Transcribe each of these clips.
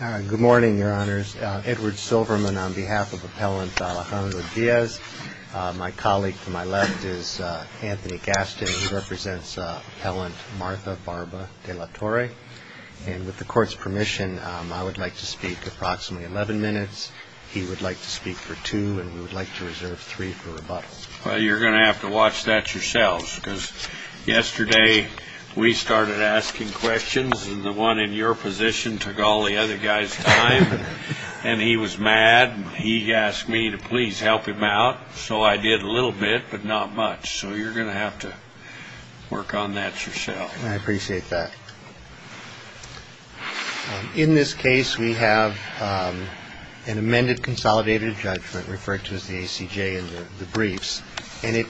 Good morning, Your Honors. Edward Silverman on behalf of Appellant Alejandro Diaz. My colleague to my left is Anthony Gaston, who represents Appellant Martha Barba de la Torre. And with the Court's permission, I would like to speak approximately 11 minutes. He would like to speak for two, and we would like to reserve three for rebuttal. Well, you're going to have to watch that yourselves, because yesterday we started asking questions, and the one in your position took all the other guys' time, and he was mad, and he asked me to please help him out. So I did a little bit, but not much. So you're going to have to work on that yourselves. I appreciate that. In this case, we have an amended consolidated judgment referred to as the ACJ in the briefs, and it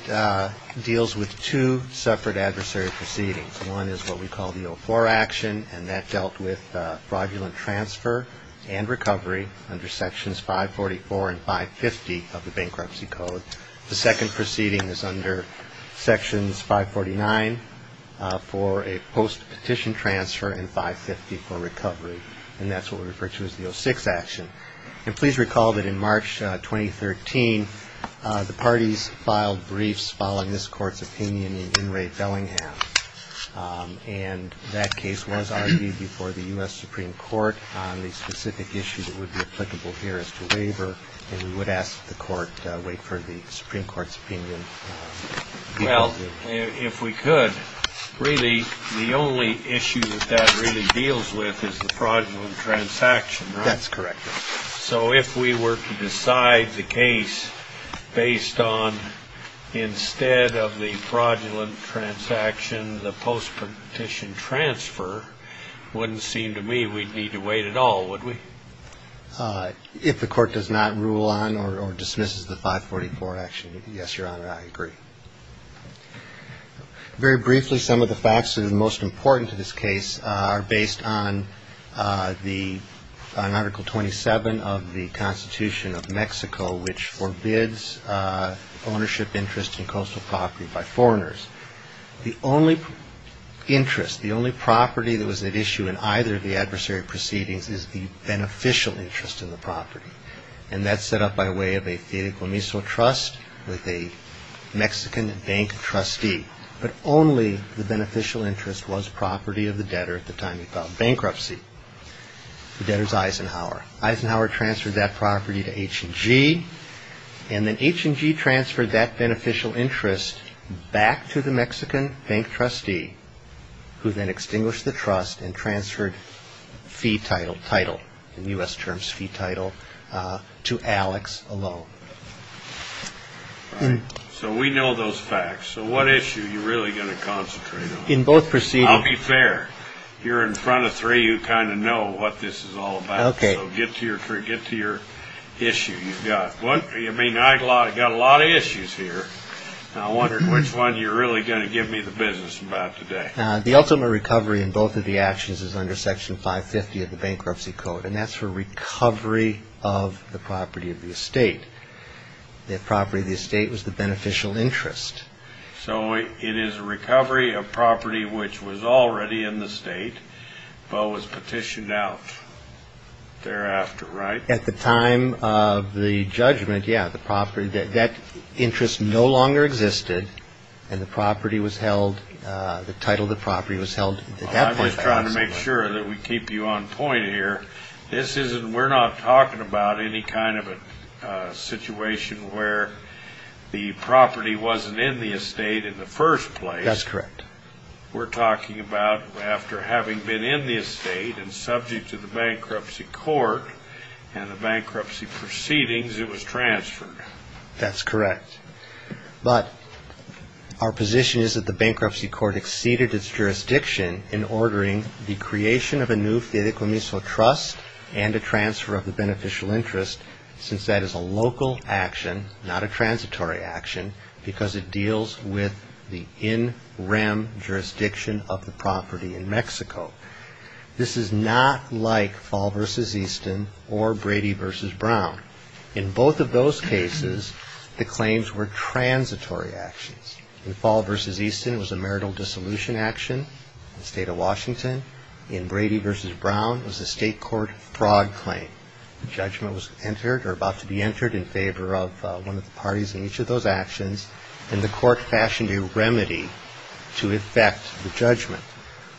deals with two separate adversary proceedings. One is what we call the 04 action, and that dealt with fraudulent transfer and recovery under Sections 544 and 550 of the Bankruptcy Code. The second proceeding is under Sections 549 for a post-petition transfer and 550 for recovery, and that's what we refer to as the 06 action. And please recall that in March 2013, the parties filed briefs following this Court's opinion in Enright-Bellingham, and that case was argued before the U.S. Supreme Court on the specific issue that would be applicable here as to waiver, and we would ask that the Court wait for the Supreme Court's opinion. Well, if we could, really the only issue that that really deals with is the fraudulent transaction, right? That's correct. So if we were to decide the case based on instead of the fraudulent transaction, the post-petition transfer, wouldn't seem to me we'd need to wait at all, would we? If the Court does not rule on or dismisses the 544 action, yes, Your Honor, I agree. Very briefly, some of the facts that are most important to this case are based on Article 27 of the Constitution of Mexico, which forbids ownership interest in coastal property by foreigners. The only interest, the only property that was at issue in either of the adversary proceedings is the beneficial interest in the property, and that's set up by way of a Fideicomiso Trust with a Mexican bank trustee, but only the beneficial interest was property of the debtor at the time he filed bankruptcy, the debtor's Eisenhower. Eisenhower transferred that property to H&G, and then H&G transferred that beneficial interest back to the Mexican bank trustee, who then extinguished the trust and transferred fee title, title in U.S. terms, fee title, to Alex alone. So we know those facts. So what issue are you really going to concentrate on? In both proceedings. I'll be fair. You're in front of three who kind of know what this is all about. Okay. So get to your issue. You've got, I mean, I've got a lot of issues here, and I wondered which one you're really going to give me the business about today. The ultimate recovery in both of the actions is under Section 550 of the Bankruptcy Code, and that's for recovery of the property of the estate. The property of the estate was the beneficial interest. So it is a recovery of property which was already in the state but was petitioned out thereafter, right? At the time of the judgment, yeah, the property, that interest no longer existed, and the property was held, the title of the property was held at that point. I'm just trying to make sure that we keep you on point here. This isn't, we're not talking about any kind of a situation where the property wasn't in the estate in the first place. That's correct. We're talking about after having been in the estate and subject to the bankruptcy court and the bankruptcy proceedings, it was transferred. That's correct. But our position is that the bankruptcy court exceeded its jurisdiction in ordering the creation of a new Fideicomiso Trust and a transfer of the beneficial interest since that is a local action, not a transitory action, because it deals with the in rem jurisdiction of the property in Mexico. This is not like Fall v. Easton or Brady v. Brown. In both of those cases, the claims were transitory actions. In Fall v. Easton, it was a marital dissolution action in the state of Washington. In Brady v. Brown, it was a state court fraud claim. The judgment was entered or about to be entered in favor of one of the parties in each of those actions, and the court fashioned a remedy to effect the judgment.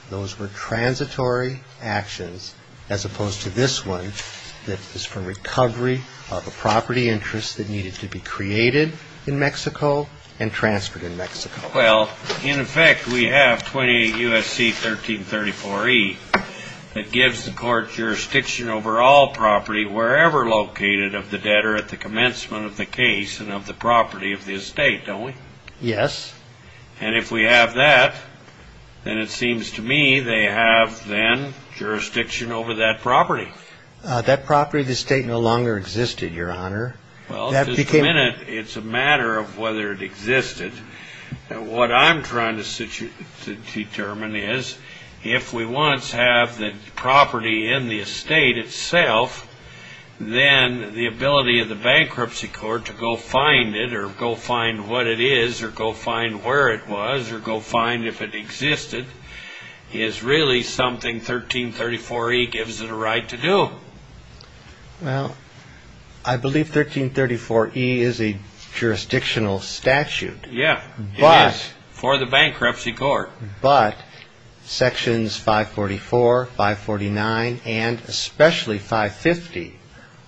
Those were transitory actions as opposed to this one that is for recovery of a property interest that needed to be created in Mexico and transferred in Mexico. Well, in effect, we have 28 U.S.C. 1334E that gives the court jurisdiction over all property wherever located of the debtor at the commencement of the case and of the property of the estate, don't we? Yes. And if we have that, then it seems to me they have then jurisdiction over that property. That property of the estate no longer existed, Your Honor. Well, it's a matter of whether it existed. What I'm trying to determine is if we once have the property in the estate itself, then the ability of the bankruptcy court to go find it or go find what it is or go find where it was or go find if it existed is really something 1334E gives it a right to do. Well, I believe 1334E is a jurisdictional statute. Yeah, it is for the bankruptcy court. But sections 544, 549, and especially 550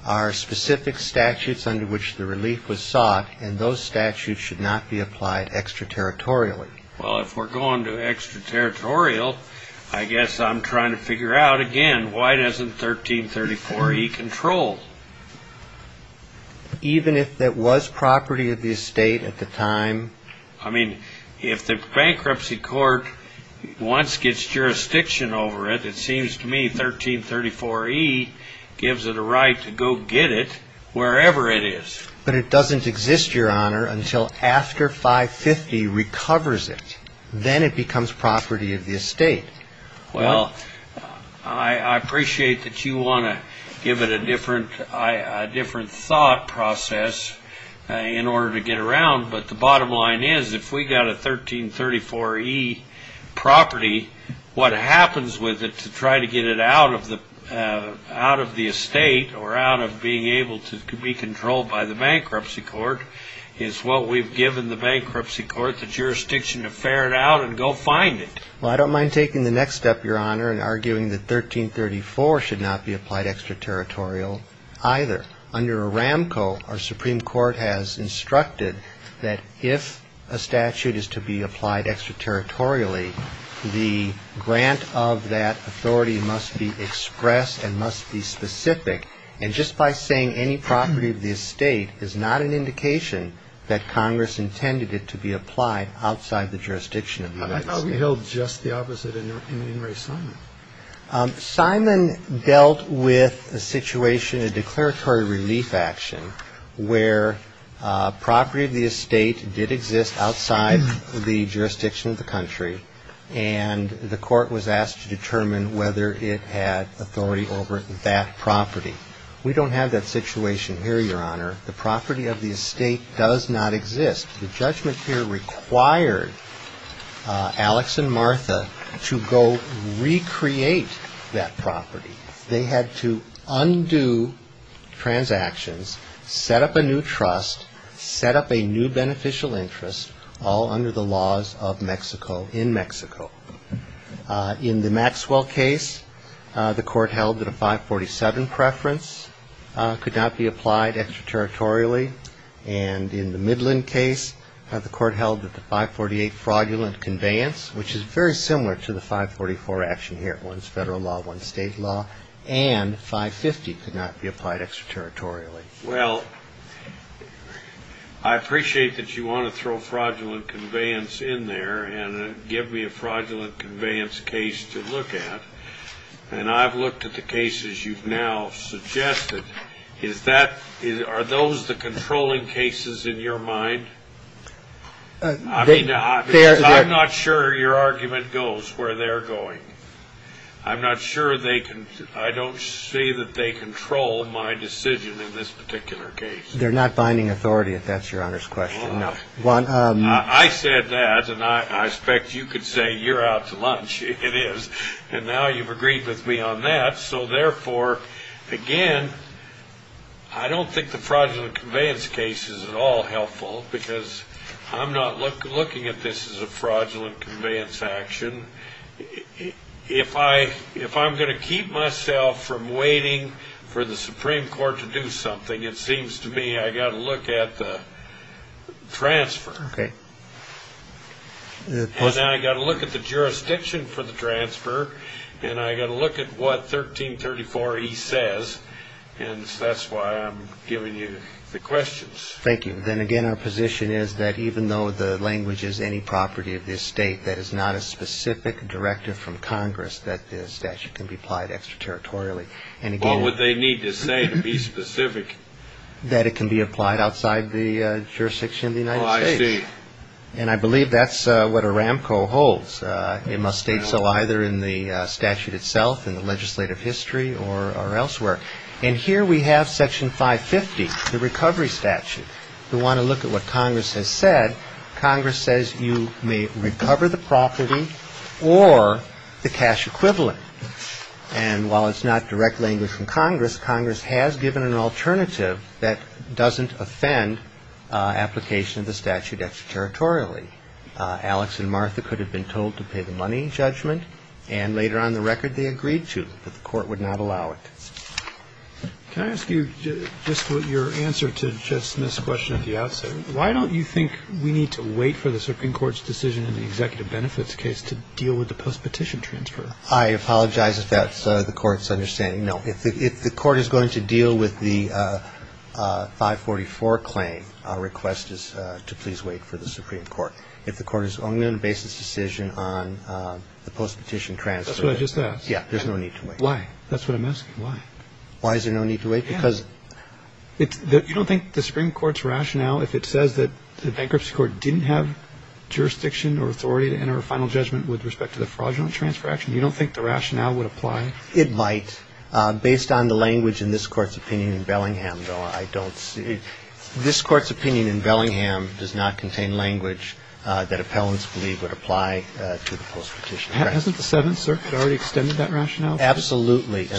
are specific statutes under which the relief was sought, and those statutes should not be applied extraterritorially. Well, if we're going to extraterritorial, I guess I'm trying to figure out again why doesn't 1334E control? Even if it was property of the estate at the time? I mean, if the bankruptcy court once gets jurisdiction over it, it seems to me 1334E gives it a right to go get it wherever it is. But it doesn't exist, Your Honor, until after 550 recovers it. Then it becomes property of the estate. Well, I appreciate that you want to give it a different thought process in order to get around, but the bottom line is if we got a 1334E property, what happens with it to try to get it out of the estate or out of being able to be controlled by the bankruptcy court is what we've given the bankruptcy court the jurisdiction to ferret out and go find it. Well, I don't mind taking the next step, Your Honor, and arguing that 1334 should not be applied extraterritorial either. Under Aramco, our Supreme Court has instructed that if a statute is to be applied extraterritorially, the grant of that authority must be expressed and must be specific. And just by saying any property of the estate is not an indication that Congress intended it to be applied outside the jurisdiction of the United States. I thought we held just the opposite in Inouye Simon. Simon dealt with a situation, a declaratory relief action, where property of the estate did exist outside the jurisdiction of the country, and the court was asked to determine whether it had authority over that property. We don't have that situation here, Your Honor. The property of the estate does not exist. The judgment here required Alex and Martha to go recreate that property. They had to undo transactions, set up a new trust, set up a new beneficial interest, all under the laws of Mexico, in Mexico. In the Maxwell case, the court held that a 547 preference could not be applied extraterritorially. And in the Midland case, the court held that the 548 fraudulent conveyance, which is very similar to the 544 action here, one's federal law, one's state law, and 550 could not be applied extraterritorially. Well, I appreciate that you want to throw fraudulent conveyance in there and give me a fraudulent conveyance case to look at. And I've looked at the cases you've now suggested. Are those the controlling cases in your mind? I mean, I'm not sure your argument goes where they're going. I'm not sure they can ñ I don't see that they control my decision in this particular case. They're not binding authority, if that's Your Honor's question. No. I said that, and I expect you could say you're out to lunch. It is. And now you've agreed with me on that. So, therefore, again, I don't think the fraudulent conveyance case is at all helpful because I'm not looking at this as a fraudulent conveyance action. If I'm going to keep myself from waiting for the Supreme Court to do something, it seems to me I've got to look at the transfer. Okay. And I've got to look at the jurisdiction for the transfer, and I've got to look at what 1334E says, and that's why I'm giving you the questions. Thank you. Then again, our position is that even though the language is any property of this state that is not a specific directive from Congress that the statute can be applied extraterritorially. What would they need to say to be specific? That it can be applied outside the jurisdiction of the United States. Oh, I see. And I believe that's what ARAMCO holds. It must state so either in the statute itself, in the legislative history, or elsewhere. And here we have Section 550, the recovery statute. We want to look at what Congress has said. Congress says you may recover the property or the cash equivalent. And while it's not direct language from Congress, Congress has given an alternative that doesn't offend application of the statute extraterritorially. Alex and Martha could have been told to pay the money judgment, and later on in the record they agreed to, but the court would not allow it. Can I ask you just your answer to Chet Smith's question at the outset? Why don't you think we need to wait for the Supreme Court's decision in the executive benefits case to deal with the post-petition transfer? I apologize if that's the Court's understanding. No, if the Court is going to deal with the 544 claim, our request is to please wait for the Supreme Court. If the Court is only going to base its decision on the post-petition transfer. That's what I just asked. Yeah, there's no need to wait. Why? That's what I'm asking, why? Why is there no need to wait? Because you don't think the Supreme Court's rationale, if it says that the bankruptcy court didn't have jurisdiction or authority to enter a final judgment with respect to the fraudulent transfer action, you don't think the rationale would apply? It might. Based on the language in this Court's opinion in Bellingham, though, I don't see. This Court's opinion in Bellingham does not contain language that appellants believe would apply to the post-petition transfer. Hasn't the Seventh Circuit already extended that rationale? Absolutely.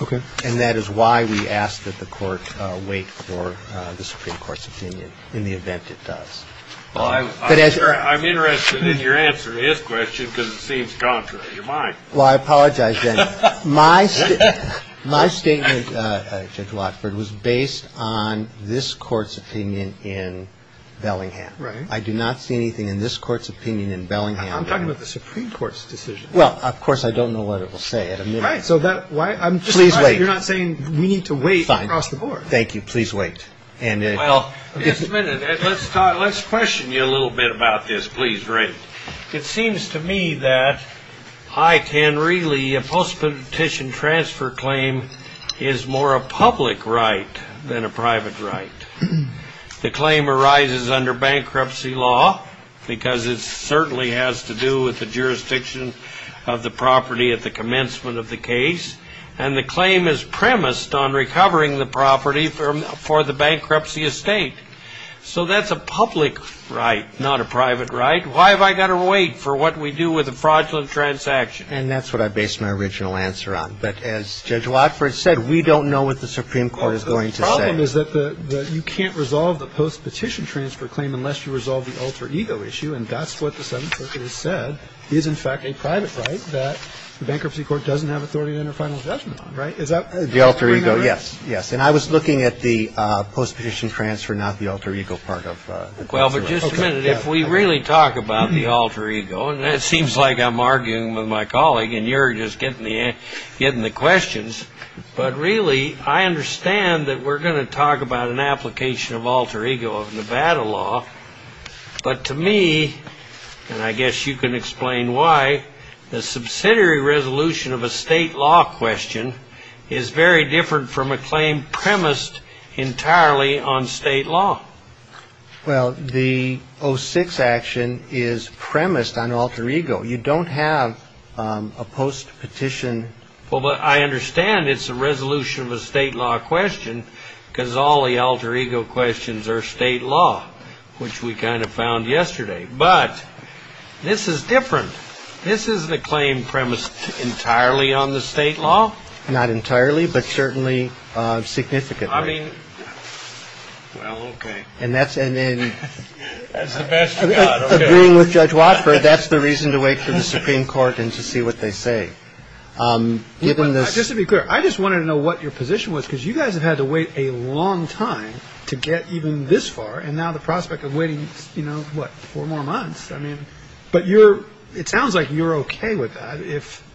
Okay. And that is why we ask that the Court wait for the Supreme Court's opinion in the event it does. I'm interested in your answer to his question because it seems contrary to mine. Well, I apologize, Dennis. My statement, Judge Watford, was based on this Court's opinion in Bellingham. Right. I do not see anything in this Court's opinion in Bellingham. I'm talking about the Supreme Court's decision. Well, of course, I don't know what it will say at a minute. Right. Please wait. I'm just surprised you're not saying we need to wait across the board. Fine. Please wait. Well, let's question you a little bit about this. Please, Ray. It seems to me that a post-petition transfer claim is more a public right than a private right. The claim arises under bankruptcy law because it certainly has to do with the jurisdiction of the property at the commencement of the case, and the claim is premised on recovering the property for the bankruptcy estate. So that's a public right, not a private right. Why have I got to wait for what we do with a fraudulent transaction? And that's what I based my original answer on. But as Judge Watford said, we don't know what the Supreme Court is going to say. Well, the problem is that you can't resolve the post-petition transfer claim unless you resolve the alter ego issue, and that's what the Seventh Circuit has said is, in fact, a private right that the Bankruptcy Court doesn't have authority to enter final judgment on. Right? The alter ego, yes. Yes. Well, but just a minute. If we really talk about the alter ego, and it seems like I'm arguing with my colleague, and you're just getting the questions, but really I understand that we're going to talk about an application of alter ego of Nevada law. But to me, and I guess you can explain why, the subsidiary resolution of a state law question is very different from a claim premised entirely on state law. Well, the 06 action is premised on alter ego. You don't have a post-petition. Well, but I understand it's a resolution of a state law question because all the alter ego questions are state law, which we kind of found yesterday. But this is different. This isn't a claim premised entirely on the state law. Not entirely, but certainly significantly. I mean, well, OK. And that's. And then that's the best of being with Judge Walker. That's the reason to wait for the Supreme Court and to see what they say. Given this, just to be clear, I just wanted to know what your position was, because you guys have had to wait a long time to get even this far. And now the prospect of waiting, you know what, four more months. I mean, but you're it sounds like you're OK with that. If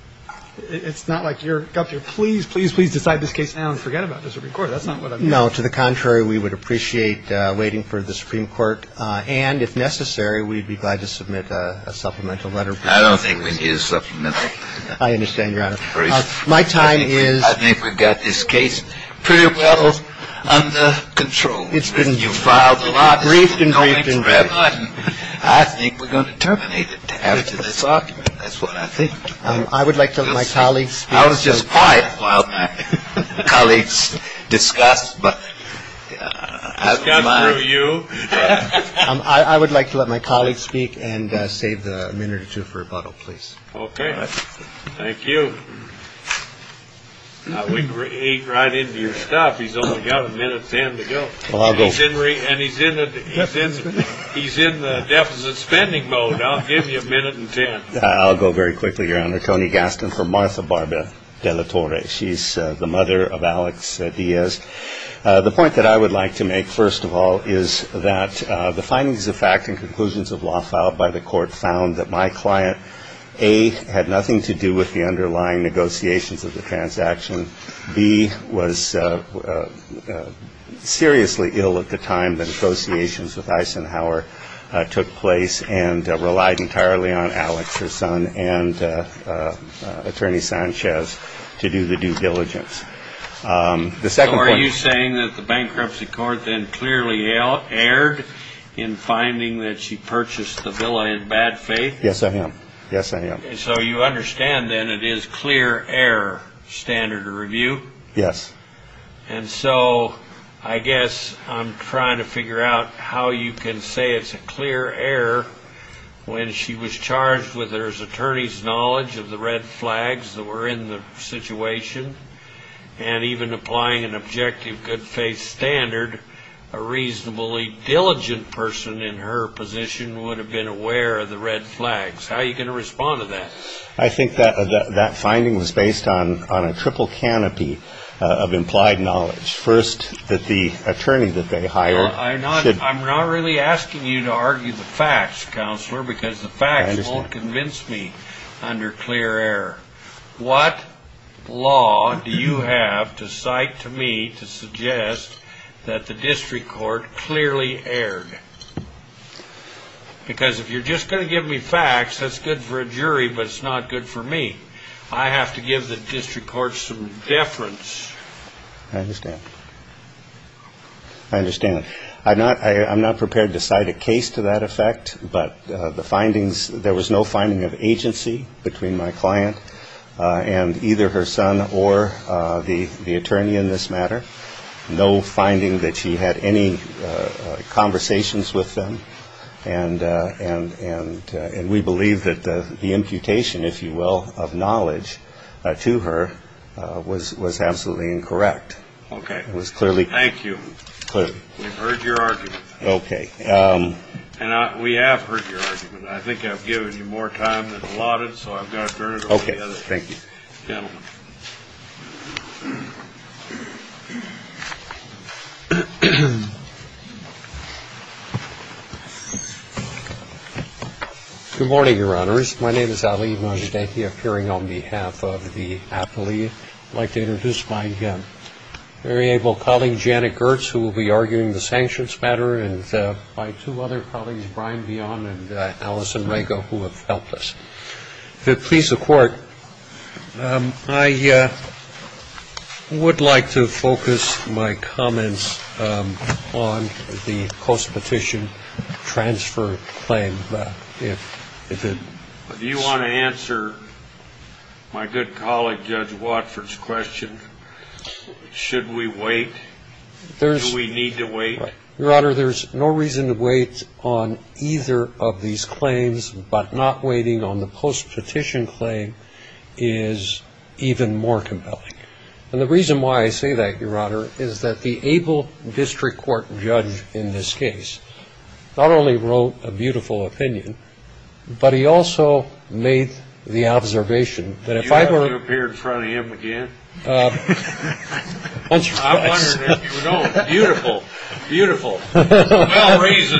it's not like you're up here, please, please, please decide this case now and forget about the Supreme Court. That's not what I mean. No. To the contrary, we would appreciate waiting for the Supreme Court. And if necessary, we'd be glad to submit a supplemental letter. I don't think we need a supplemental. I understand, Your Honor. My time is. I think we've got this case pretty well under control. You've filed a lot. Briefed and briefed and briefed. I think we're going to terminate it after this argument. That's what I think. I would like to let my colleagues. I was just quiet while my colleagues discussed. But you. I would like to let my colleagues speak and save the minute or two for rebuttal, please. OK. Thank you. Now we eat right into your stuff. He's only got a minute, 10 to go. Well, I'll go. And he's in. He's in the deficit spending mode. I'll give you a minute and 10. I'll go very quickly, Your Honor. Tony Gaston for Martha Barber de la Torre. She's the mother of Alex Diaz. The point that I would like to make, first of all, is that the findings of fact and conclusions of law filed by the court found that my client, A, had nothing to do with the underlying negotiations of the transaction. B, was seriously ill at the time the negotiations with Eisenhower took place and relied entirely on Alex, her son, and Attorney Sanchez to do the due diligence. The second point. So are you saying that the bankruptcy court then clearly erred in finding that she purchased the villa in bad faith? Yes, I am. Yes, I am. So you understand, then, it is clear error standard of review? Yes. And so I guess I'm trying to figure out how you can say it's a clear error when she was charged with her attorney's knowledge of the red flags that were in the situation and even applying an objective good faith standard, a reasonably diligent person in her position would have been aware of the red flags. How are you going to respond to that? I think that finding was based on a triple canopy of implied knowledge. First, that the attorney that they hired should I'm not really asking you to argue the facts, Counselor, because the facts won't convince me under clear error. What law do you have to cite to me to suggest that the district court clearly erred? Because if you're just going to give me facts, that's good for a jury, but it's not good for me. I have to give the district court some deference. I understand. I understand. I'm not prepared to cite a case to that effect, but the findings there was no finding of agency between my client and either her son or the attorney in this matter. No finding that she had any conversations with them. And we believe that the imputation, if you will, of knowledge to her was absolutely incorrect. Okay. It was clearly. Thank you. Clearly. We've heard your argument. Okay. And we have heard your argument. I think I've given you more time than allotted, so I've got to turn it over to the gentleman. Okay. Thank you. Good morning, Your Honors. My name is Ali Majdahi, appearing on behalf of the affilee. I'd like to introduce my very able colleague, Janet Gertz, who will be arguing the sanctions matter, and my two other colleagues, Brian Vion and Allison Rago, who have helped us. If it please the Court, I would like to focus my comments on the post-petition transfer claim. Do you want to answer my good colleague Judge Watford's question? Should we wait? Do we need to wait? Your Honor, there's no reason to wait on either of these claims, but not waiting on the post-petition claim is even more compelling. And the reason why I say that, Your Honor, is that the able district court judge in this case not only wrote a beautiful opinion, but he also made the observation that if I were to ---- Do you want to appear in front of him again? I'm wondering if you don't. Beautiful, beautiful, well-raised,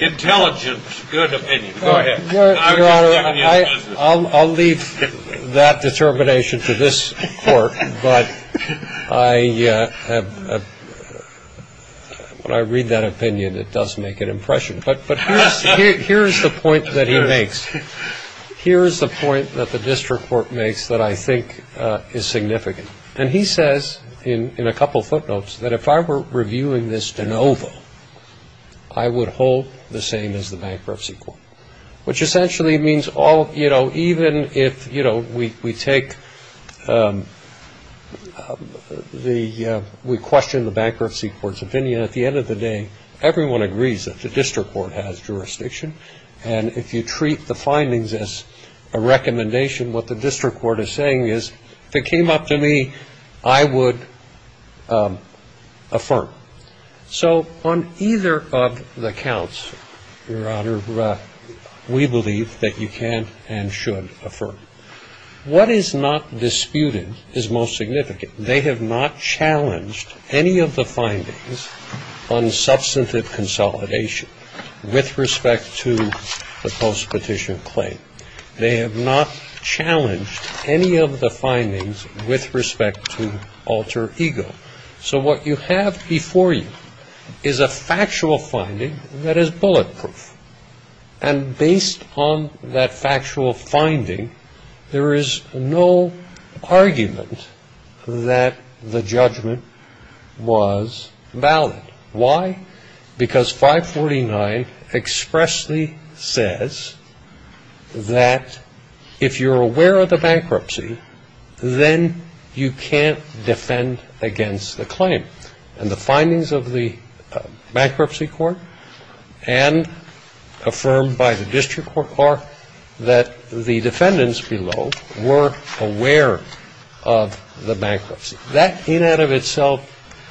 intelligent, good opinion. Go ahead. Your Honor, I'll leave that determination to this Court, but when I read that opinion, it does make an impression. Here's the point that he makes. Here's the point that the district court makes that I think is significant. And he says in a couple footnotes that if I were reviewing this de novo, I would hold the same as the bankruptcy court, which essentially means even if we take the ---- we question the bankruptcy court's opinion, at the end of the day, everyone agrees that the district court has jurisdiction. And if you treat the findings as a recommendation, what the district court is saying is if it came up to me, I would affirm. So on either of the counts, Your Honor, we believe that you can and should affirm. What is not disputed is most significant. They have not challenged any of the findings on substantive consolidation with respect to the post-petition claim. They have not challenged any of the findings with respect to alter ego. So what you have before you is a factual finding that is bulletproof. And based on that factual finding, there is no argument that the judgment was valid. Why? Because 549 expressly says that if you're aware of the bankruptcy, then you can't defend against the claim. And the findings of the bankruptcy court and affirmed by the district court are that the defendants below were aware of the bankruptcy. That in and of itself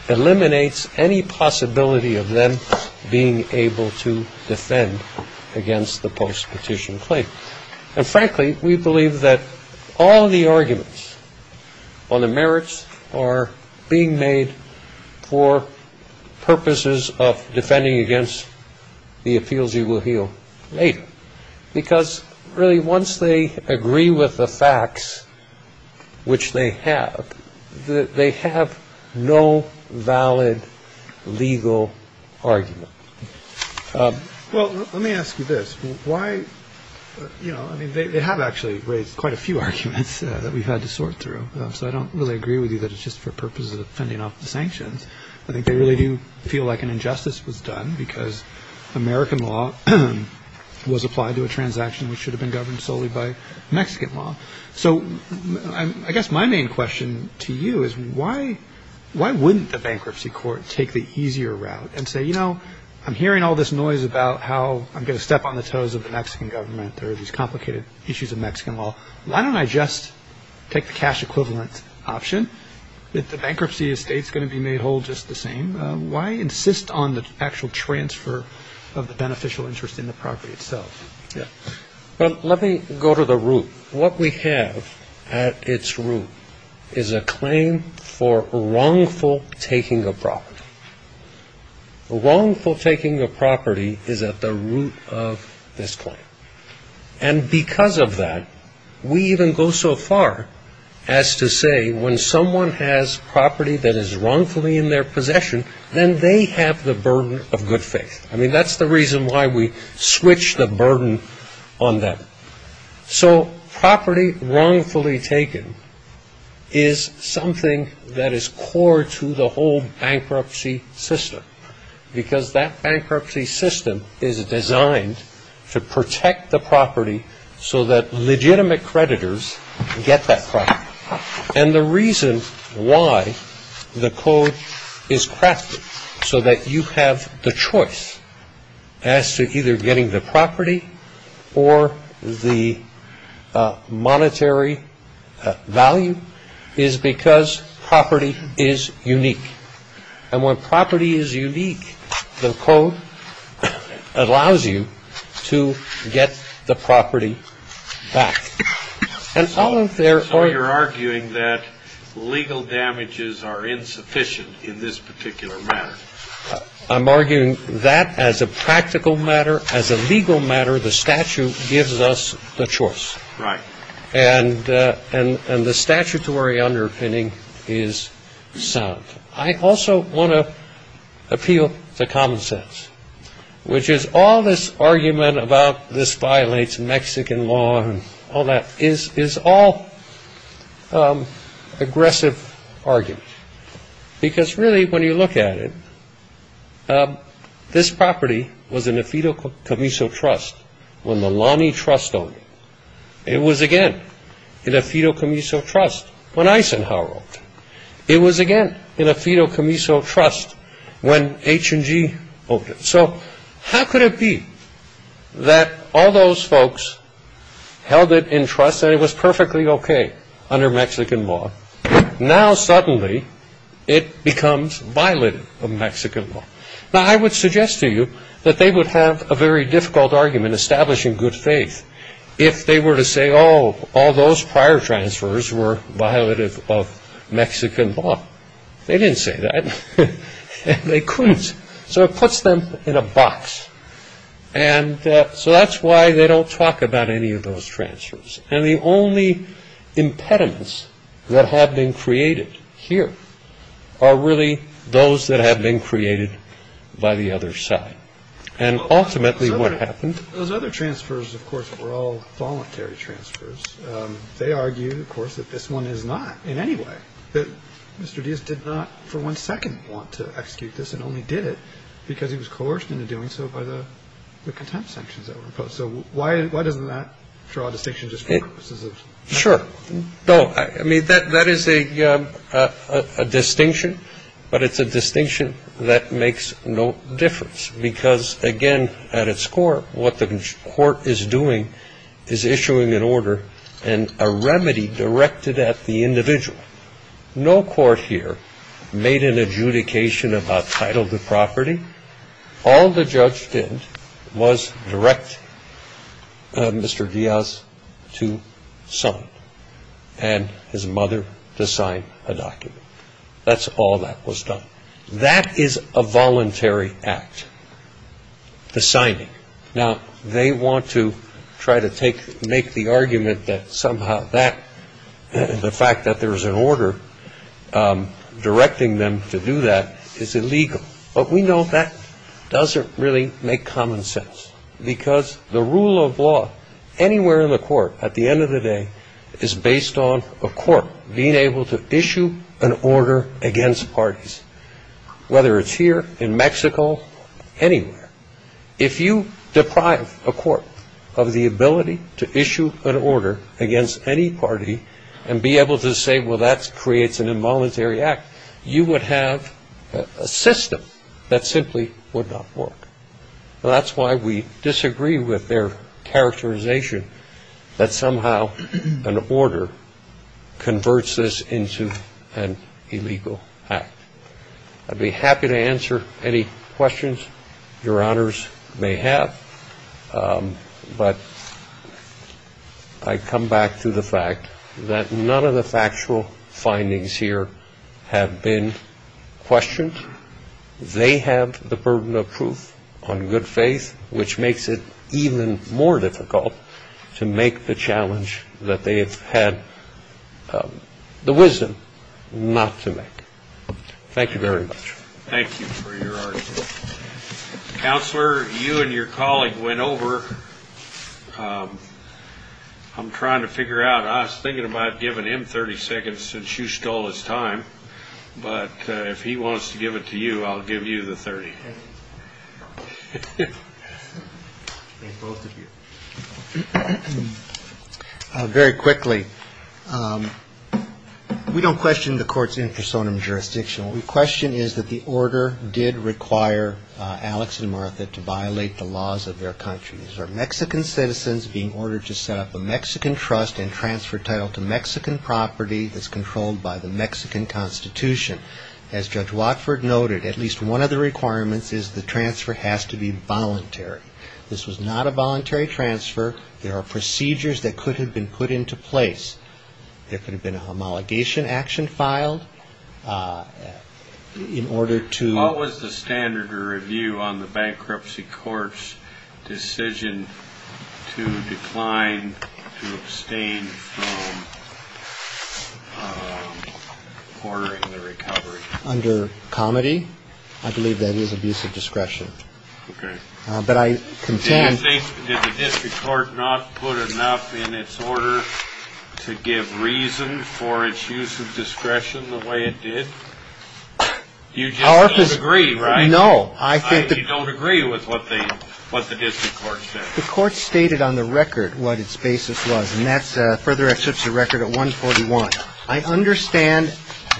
eliminates any possibility of them being able to defend against the post-petition claim. And frankly, we believe that all of the arguments on the merits are being made for purposes of defending against the appeals you will hear later. Because really once they agree with the facts, which they have, they have no valid legal argument. Well, let me ask you this. Why? You know, I mean, they have actually raised quite a few arguments that we've had to sort through. So I don't really agree with you that it's just for purposes of fending off the sanctions. I think they really do feel like an injustice was done because American law was applied to a transaction which should have been governed solely by Mexican law. So I guess my main question to you is, why wouldn't the bankruptcy court take the easier route and say, you know, I'm hearing all this noise about how I'm going to step on the toes of the Mexican government or these complicated issues of Mexican law. Why don't I just take the cash equivalent option that the bankruptcy estate is going to be made whole just the same. Why insist on the actual transfer of the beneficial interest in the property itself? Well, let me go to the root. What we have at its root is a claim for wrongful taking of property. Wrongful taking of property is at the root of this claim. And because of that, we even go so far as to say when someone has property that is wrongfully in their possession, then they have the burden of good faith. I mean, that's the reason why we switch the burden on them. So property wrongfully taken is something that is core to the whole bankruptcy system, because that bankruptcy system is designed to protect the property so that legitimate creditors get that property. And the reason why the code is crafted so that you have the choice as to either getting the property or the monetary value is because property is unique. And when property is unique, the code allows you to get the property back. So you're arguing that legal damages are insufficient in this particular matter. I'm arguing that as a practical matter, as a legal matter, the statute gives us the choice. Right. And the statutory underpinning is sound. I also want to appeal to common sense, which is all this argument about this violates Mexican law and all that is all aggressive argument. Because really, when you look at it, this property was in a Fido Camiso trust when the Lonnie Trust owned it. It was, again, in a Fido Camiso trust when Eisenhower owned it. It was, again, in a Fido Camiso trust when H&G owned it. So how could it be that all those folks held it in trust and it was perfectly okay under Mexican law? Now, suddenly, it becomes violative of Mexican law. Now, I would suggest to you that they would have a very difficult argument establishing good faith if they were to say, oh, all those prior transfers were violative of Mexican law. They didn't say that. They couldn't. So it puts them in a box. And so that's why they don't talk about any of those transfers. And the only impediments that have been created here are really those that have been created by the other side. And ultimately, what happened to those other transfers, of course, were all voluntary transfers. They argue, of course, that this one is not in any way that Mr. Diaz did not for one second want to execute this and only did it because he was coerced into doing so by the contempt sanctions that were imposed. So why doesn't that draw a distinction just for purposes of Mexican law? No, I mean, that is a distinction. But it's a distinction that makes no difference because, again, at its core, what the court is doing is issuing an order and a remedy directed at the individual. No court here made an adjudication about title to property. All the judge did was direct Mr. Diaz to sign and his mother to sign a document. That's all that was done. That is a voluntary act, the signing. Now, they want to try to make the argument that somehow the fact that there is an order directing them to do that is illegal. But we know that doesn't really make common sense because the rule of law anywhere in the court at the end of the day is based on a court being able to issue an order against parties, whether it's here in Mexico, anywhere. If you deprive a court of the ability to issue an order against any party and be able to say, well, that creates an involuntary act, you would have a system that simply would not work. That's why we disagree with their characterization that somehow an order converts this into an illegal act. I'd be happy to answer any questions your honors may have. But I come back to the fact that none of the factual findings here have been questioned. They have the burden of proof on good faith, which makes it even more difficult to make the challenge that they have had the wisdom not to make. Thank you very much. Thank you for your argument. Counselor, you and your colleague went over. I'm trying to figure out. I was thinking about giving him 30 seconds since you stole his time. But if he wants to give it to you, I'll give you the 30. Very quickly, we don't question the courts in personam jurisdiction. We question is that the order did require Alex and Martha to violate the laws of their country. These are Mexican citizens being ordered to set up a Mexican trust and transfer title to Mexican property that's controlled by the Mexican Constitution. As Judge Watford noted, at least one of the requirements is the transfer has to be voluntary. This was not a voluntary transfer. There are procedures that could have been put into place. There could have been a homologation action filed in order to. What was the standard review on the bankruptcy court's decision to decline to abstain from ordering the recovery under comedy? I believe that is abuse of discretion. But I contend they did the district court not put enough in its order to give reason for its use of discretion the way it did. You just agree, right? No, I don't agree with what they what the district court said. The court stated on the record what its basis was. And that's a further exception record at 141. I understand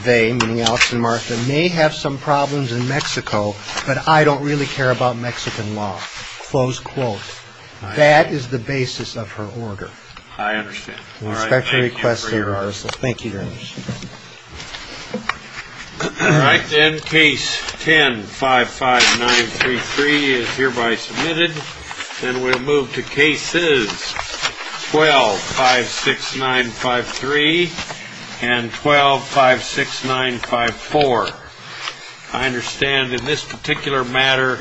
they Alex and Martha may have some problems in Mexico, but I don't really care about Mexican law. Close quote. That is the basis of her order. I understand. All right. Thank you. Thank you. All right. Then case 10 5 5 9 3 3 is hereby submitted. Then we'll move to cases 12 5 6 9 5 3 and 12 5 6 9 5 4. I understand in this particular matter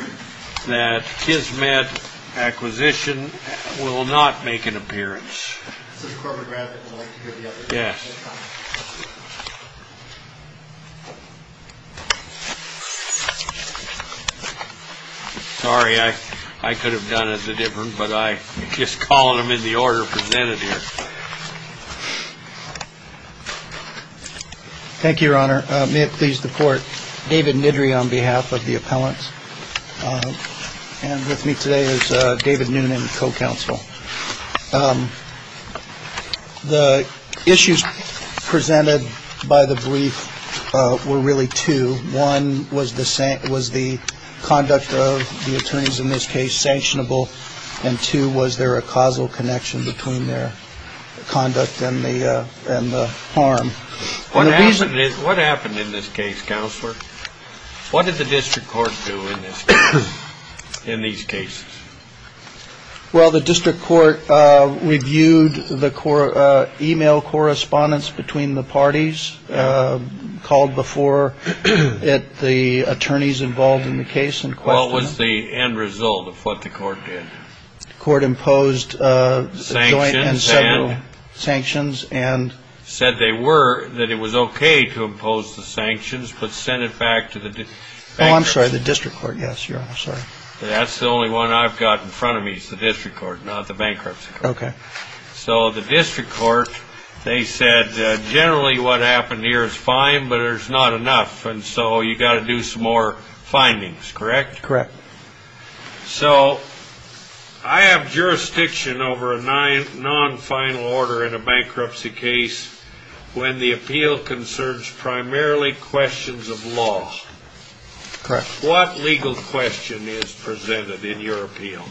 that Kismet Acquisition will not make an appearance. Yes. All right. I could have done as a different, but I just call them in the order presented here. Thank you, Your Honor. May it please the court. David Nidre on behalf of the appellants. And with me today is David Newman, co-counsel. The issues presented by the brief were really two. One was the was the conduct of the attorneys in this case sanctionable. And two, was there a causal connection between their conduct and the harm? What happened? What happened in this case? Counselor, what did the district court do in this in these cases? Well, the district court reviewed the core email correspondence between the parties called before it. The attorneys involved in the case and what was the end result of what the court did? The court imposed sanctions and sanctions and said they were that it was OK to impose the sanctions. But send it back to the bank. I'm sorry. Yes, Your Honor. That's the only one I've got in front of me is the district court, not the bankruptcy. OK. So the district court, they said generally what happened here is fine, but there's not enough. And so you've got to do some more findings, correct? Correct. So I have jurisdiction over a non-final order in a bankruptcy case when the appeal concerns primarily questions of law. Correct. What legal question is presented in your appeal?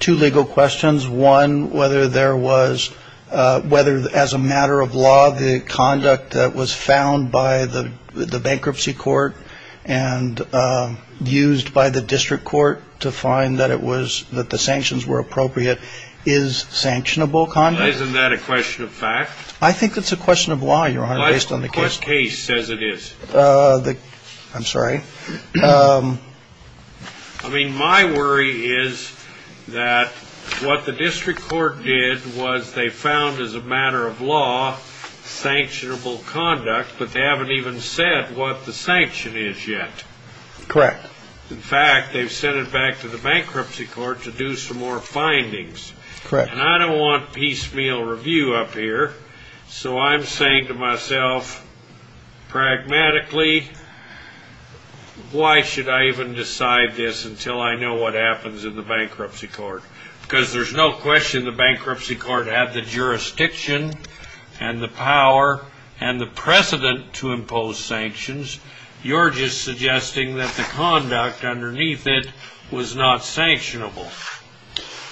Two legal questions. One, whether there was whether as a matter of law, the conduct that was found by the bankruptcy court and used by the district court to find that it was that the sanctions were appropriate is sanctionable conduct. Isn't that a question of fact? I think it's a question of why, Your Honor, based on the case. What case says it is? I'm sorry. I mean, my worry is that what the district court did was they found as a matter of law, sanctionable conduct, but they haven't even said what the sanction is yet. Correct. In fact, they've sent it back to the bankruptcy court to do some more findings. Correct. And I don't want piecemeal review up here, so I'm saying to myself, pragmatically, why should I even decide this until I know what happens in the bankruptcy court? Because there's no question the bankruptcy court had the jurisdiction and the power and the precedent to impose sanctions. You're just suggesting that the conduct underneath it was not sanctionable,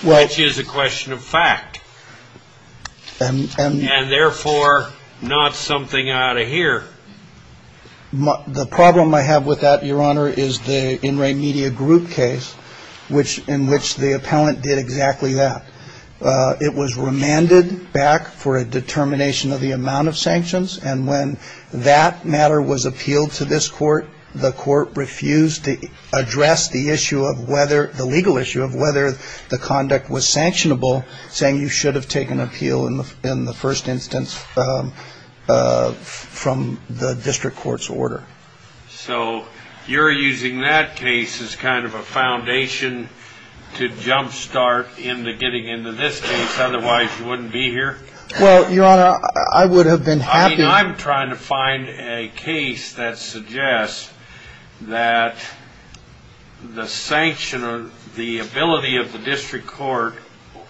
which is a question of fact and therefore not something out of here. The problem I have with that, Your Honor, is the in-ring media group case, which in which the appellant did exactly that. It was remanded back for a determination of the amount of sanctions, and when that matter was appealed to this court, the court refused to address the issue of whether the legal issue of whether the conduct was sanctionable, saying you should have taken appeal in the first instance from the district court's order. So you're using that case as kind of a foundation to jumpstart into getting into this case. Otherwise, you wouldn't be here. Well, Your Honor, I would have been happy. I mean, I'm trying to find a case that suggests that the sanction or the ability of the district court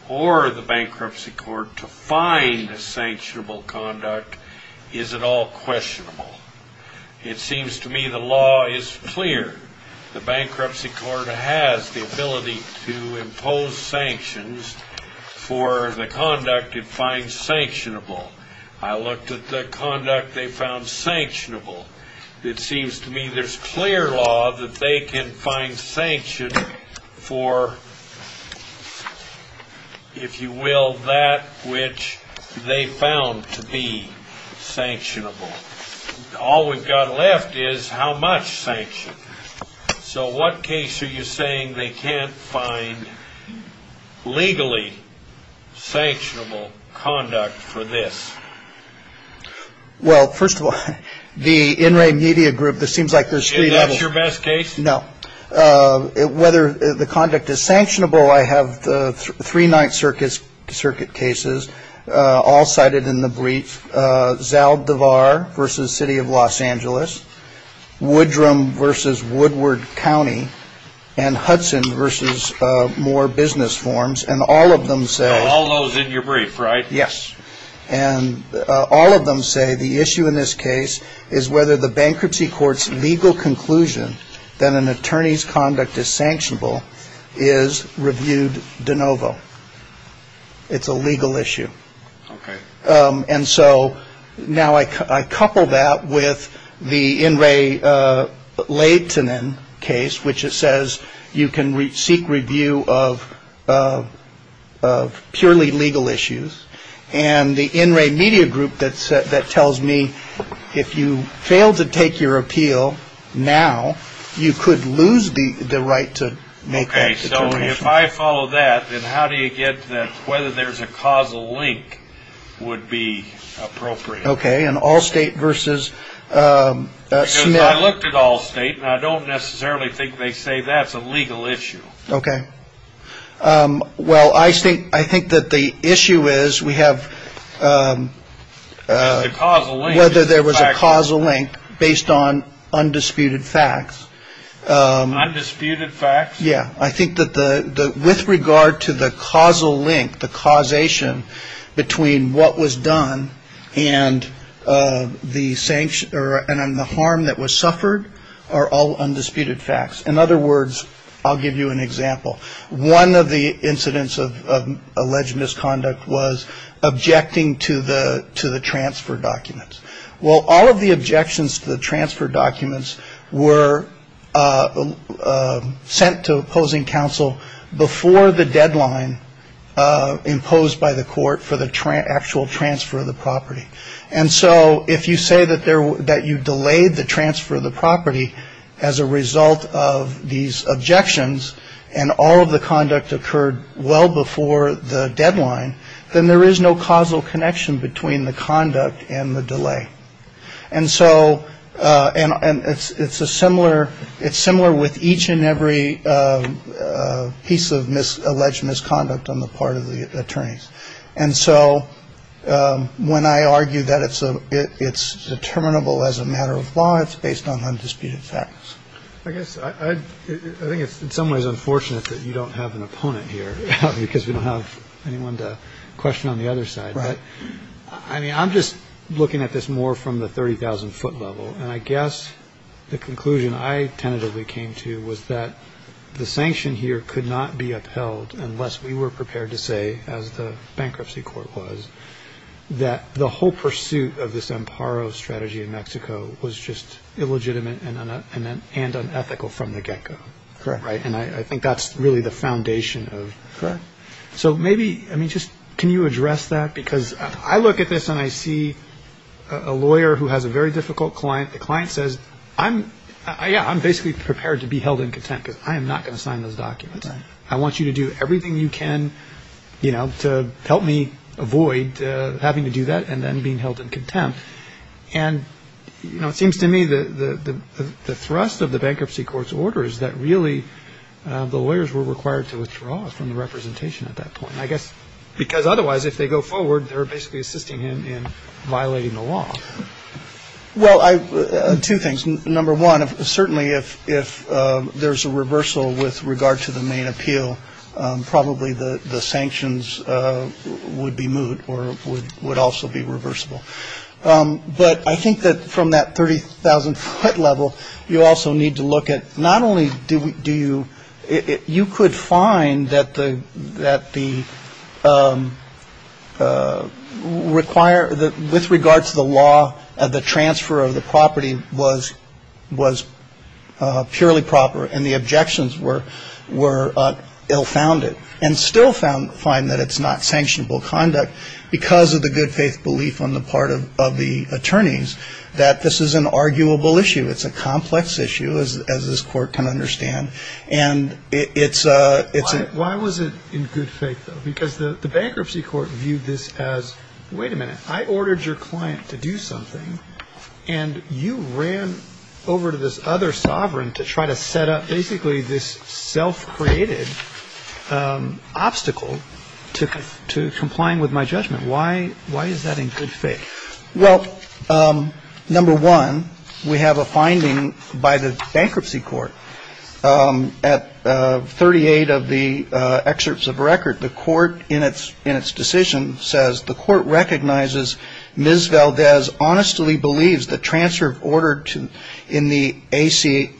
or the bankruptcy court to find a sanctionable conduct is at all questionable. It seems to me the law is clear. The bankruptcy court has the ability to impose sanctions for the conduct it finds sanctionable. I looked at the conduct they found sanctionable. It seems to me there's clear law that they can find sanction for, if you will, that which they found to be sanctionable. All we've got left is how much sanction. So what case are you saying they can't find legally sanctionable conduct for this? Well, first of all, the In Re Media Group, this seems like there's three levels. Is that your best case? No. Whether the conduct is sanctionable, I have the three Ninth Circuit cases all cited in the brief. Zaldivar versus City of Los Angeles, Woodrum versus Woodward County, and Hudson versus Moore Business Forms. And all of them say. All those in your brief, right? Yes. And all of them say the issue in this case is whether the bankruptcy court's legal conclusion that an attorney's conduct is sanctionable is reviewed de novo. It's a legal issue. And so now I couple that with the In Re Layton case, which says you can seek review of purely legal issues. And the In Re Media Group that tells me if you fail to take your appeal now, you could lose the right to make. So if I follow that, then how do you get that? Whether there's a causal link would be appropriate. OK. And Allstate versus. I looked at Allstate and I don't necessarily think they say that's a legal issue. OK. Well, I think I think that the issue is we have a causal whether there was a causal link based on undisputed facts. Undisputed facts. Yeah. I think that the with regard to the causal link, the causation between what was done and the same or the harm that was suffered are all undisputed facts. In other words, I'll give you an example. One of the incidents of alleged misconduct was objecting to the to the transfer documents. Well, all of the objections to the transfer documents were sent to opposing counsel before the deadline imposed by the court for the actual transfer of the property. And so if you say that there that you delayed the transfer of the property as a result of these objections and all of the conduct occurred well before the deadline, then there is no causal connection between the conduct and the delay. And so and it's a similar it's similar with each and every piece of alleged misconduct on the part of the attorneys. And so when I argue that it's a it's determinable as a matter of law, it's based on undisputed facts. I guess I think it's in some ways unfortunate that you don't have an opponent here because we don't have anyone to question on the other side. But I mean, I'm just looking at this more from the 30000 foot level. And I guess the conclusion I tentatively came to was that the sanction here could not be upheld unless we were prepared to say, as the bankruptcy court was, that the whole pursuit of this Amparo strategy in Mexico was just illegitimate and unethical from the get go. Right. And I think that's really the foundation of. So maybe I mean, just can you address that? Because I look at this and I see a lawyer who has a very difficult client. The client says, I'm I'm basically prepared to be held in contempt because I am not going to sign those documents. I want you to do everything you can to help me avoid having to do that and then being held in contempt. And, you know, it seems to me that the thrust of the bankruptcy court's order is that really the lawyers were required to withdraw from the representation at that point. I guess because otherwise, if they go forward, they're basically assisting him in violating the law. Well, two things. Number one, certainly, if if there's a reversal with regard to the main appeal, probably the sanctions would be moved or would would also be reversible. But I think that from that 30000 foot level, you also need to look at not only do we do it. You could find that the that the require that with regards to the law of the transfer of the property was was purely proper. And the objections were were ill founded and still found find that it's not sanctionable conduct because of the good faith belief on the part of the attorneys that this is an arguable issue. It's a complex issue, as this court can understand. And it's a it's a. Why was it in good faith, though? Because the bankruptcy court viewed this as. Wait a minute. I ordered your client to do something and you ran over to this other sovereign to try to set up basically this self-created obstacle to to complying with my judgment. Why? Why is that in good faith? Well, number one, we have a finding by the bankruptcy court at 38 of the excerpts of record. The court in its in its decision says the court recognizes Ms. Valdez honestly believes the transfer of order to in the AC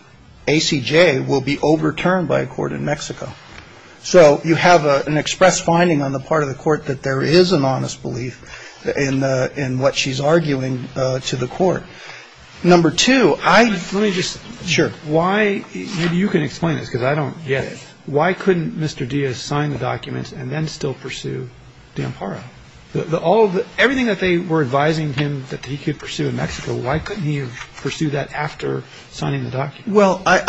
ACJ will be overturned by a court in Mexico. So you have an express finding on the part of the court that there is an honest belief in in what she's arguing to the court. Number two, I let me just. Sure. Why? Maybe you can explain this because I don't get it. Why couldn't Mr. Diaz sign the documents and then still pursue Dampara? All the everything that they were advising him that he could pursue in Mexico. Well, I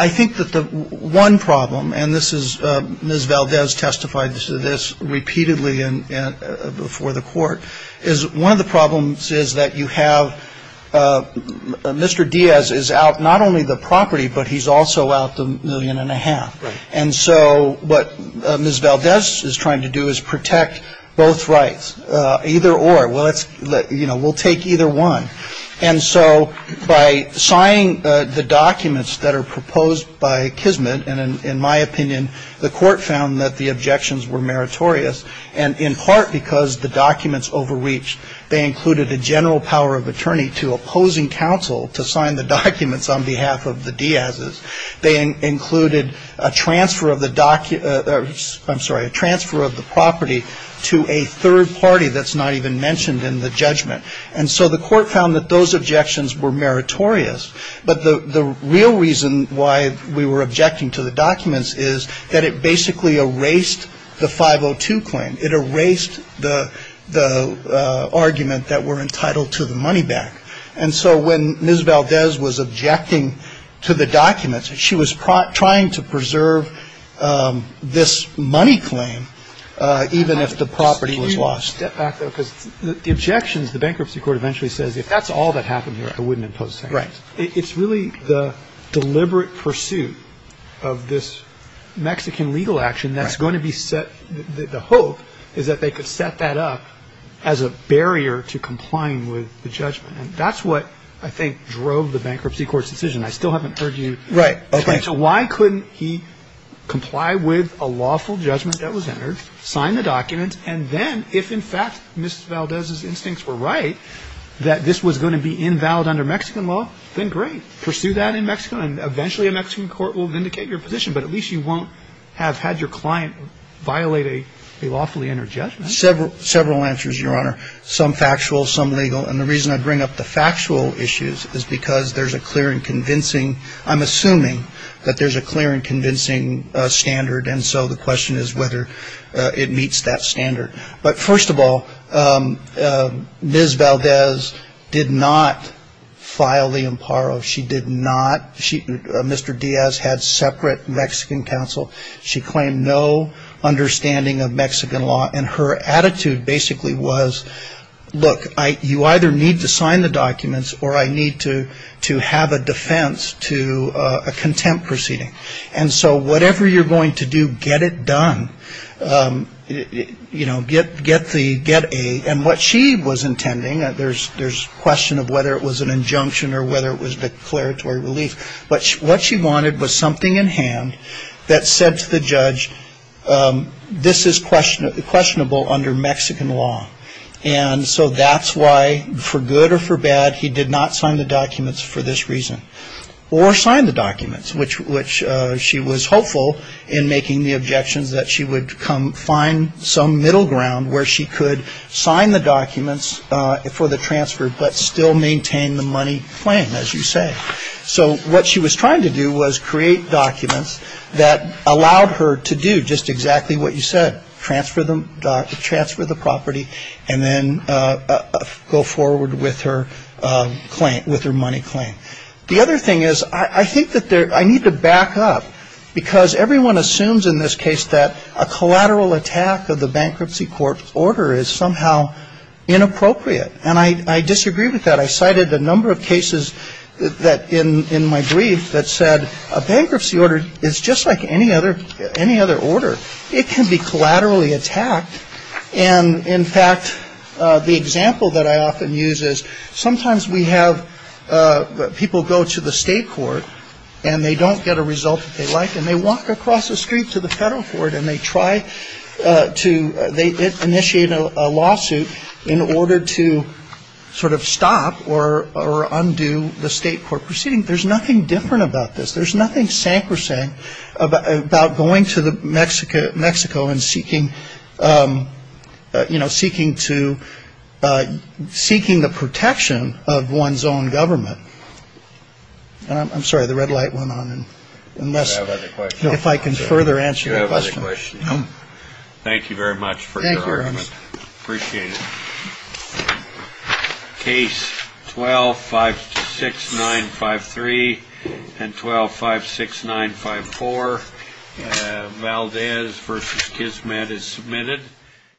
think that the one problem and this is Ms. Valdez testified to this repeatedly and before the court is one of the problems is that you have Mr. Diaz is out not only the property, but he's also out the million and a half. And so what Ms. Valdez is trying to do is protect both rights either or. Well, it's you know, we'll take either one. And so by signing the documents that are proposed by Kismet and in my opinion, the court found that the objections were meritorious. And in part because the documents overreached, they included a general power of attorney to opposing counsel to sign the documents on behalf of the Diaz. They included a transfer of the documents. I'm sorry, a transfer of the property to a third party that's not even mentioned in the judgment. And so the court found that those objections were meritorious. But the real reason why we were objecting to the documents is that it basically erased the 502 claim. It erased the argument that we're entitled to the money back. And so when Ms. Valdez was objecting to the documents, she was trying to preserve this money claim even if the property was lost. Let me step back, though, because the objections, the bankruptcy court eventually says if that's all that happened here, I wouldn't impose sanctions. It's really the deliberate pursuit of this Mexican legal action that's going to be set. The hope is that they could set that up as a barrier to complying with the judgment. And that's what I think drove the bankruptcy court's decision. I still haven't heard you. Right. Okay. So why couldn't he comply with a lawful judgment that was entered, sign the documents, and then if in fact Ms. Valdez's instincts were right that this was going to be invalid under Mexican law, then great. Pursue that in Mexico and eventually a Mexican court will vindicate your position. But at least you won't have had your client violate a lawfully entered judgment. Several answers, Your Honor. Some factual, some legal. And the reason I bring up the factual issues is because there's a clear and convincing. I'm assuming that there's a clear and convincing standard. And so the question is whether it meets that standard. But first of all, Ms. Valdez did not file the imparo. She did not. Mr. Diaz had separate Mexican counsel. She claimed no understanding of Mexican law. And her attitude basically was, look, you either need to sign the documents or I need to have a defense to a contempt proceeding. And so whatever you're going to do, get it done. You know, get the get aid. And what she was intending, there's question of whether it was an injunction or whether it was declaratory relief. But what she wanted was something in hand that said to the judge, this is questionable under Mexican law. And so that's why, for good or for bad, he did not sign the documents for this reason. Or sign the documents, which she was hopeful in making the objections that she would come find some middle ground where she could sign the documents for the transfer but still maintain the money claim, as you say. So what she was trying to do was create documents that allowed her to do just exactly what you said, transfer the property and then go forward with her claim, with her money claim. The other thing is, I think that I need to back up because everyone assumes in this case that a collateral attack of the bankruptcy court's order is somehow inappropriate. And I disagree with that. I cited a number of cases in my brief that said a bankruptcy order is just like any other order. It can be collaterally attacked. And, in fact, the example that I often use is sometimes we have people go to the state court and they don't get a result that they like and they walk across the street to the federal court and they try to initiate a lawsuit in order to sort of stop or undo the state court proceeding. There's nothing different about this. There's nothing sacrosanct about going to Mexico and seeking the protection of one's own government. I'm sorry, the red light went on. If I can further answer your question. Thank you very much for your argument. Appreciate it. Case 12-56953 and 12-56954, Valdez v. Kismet is submitted.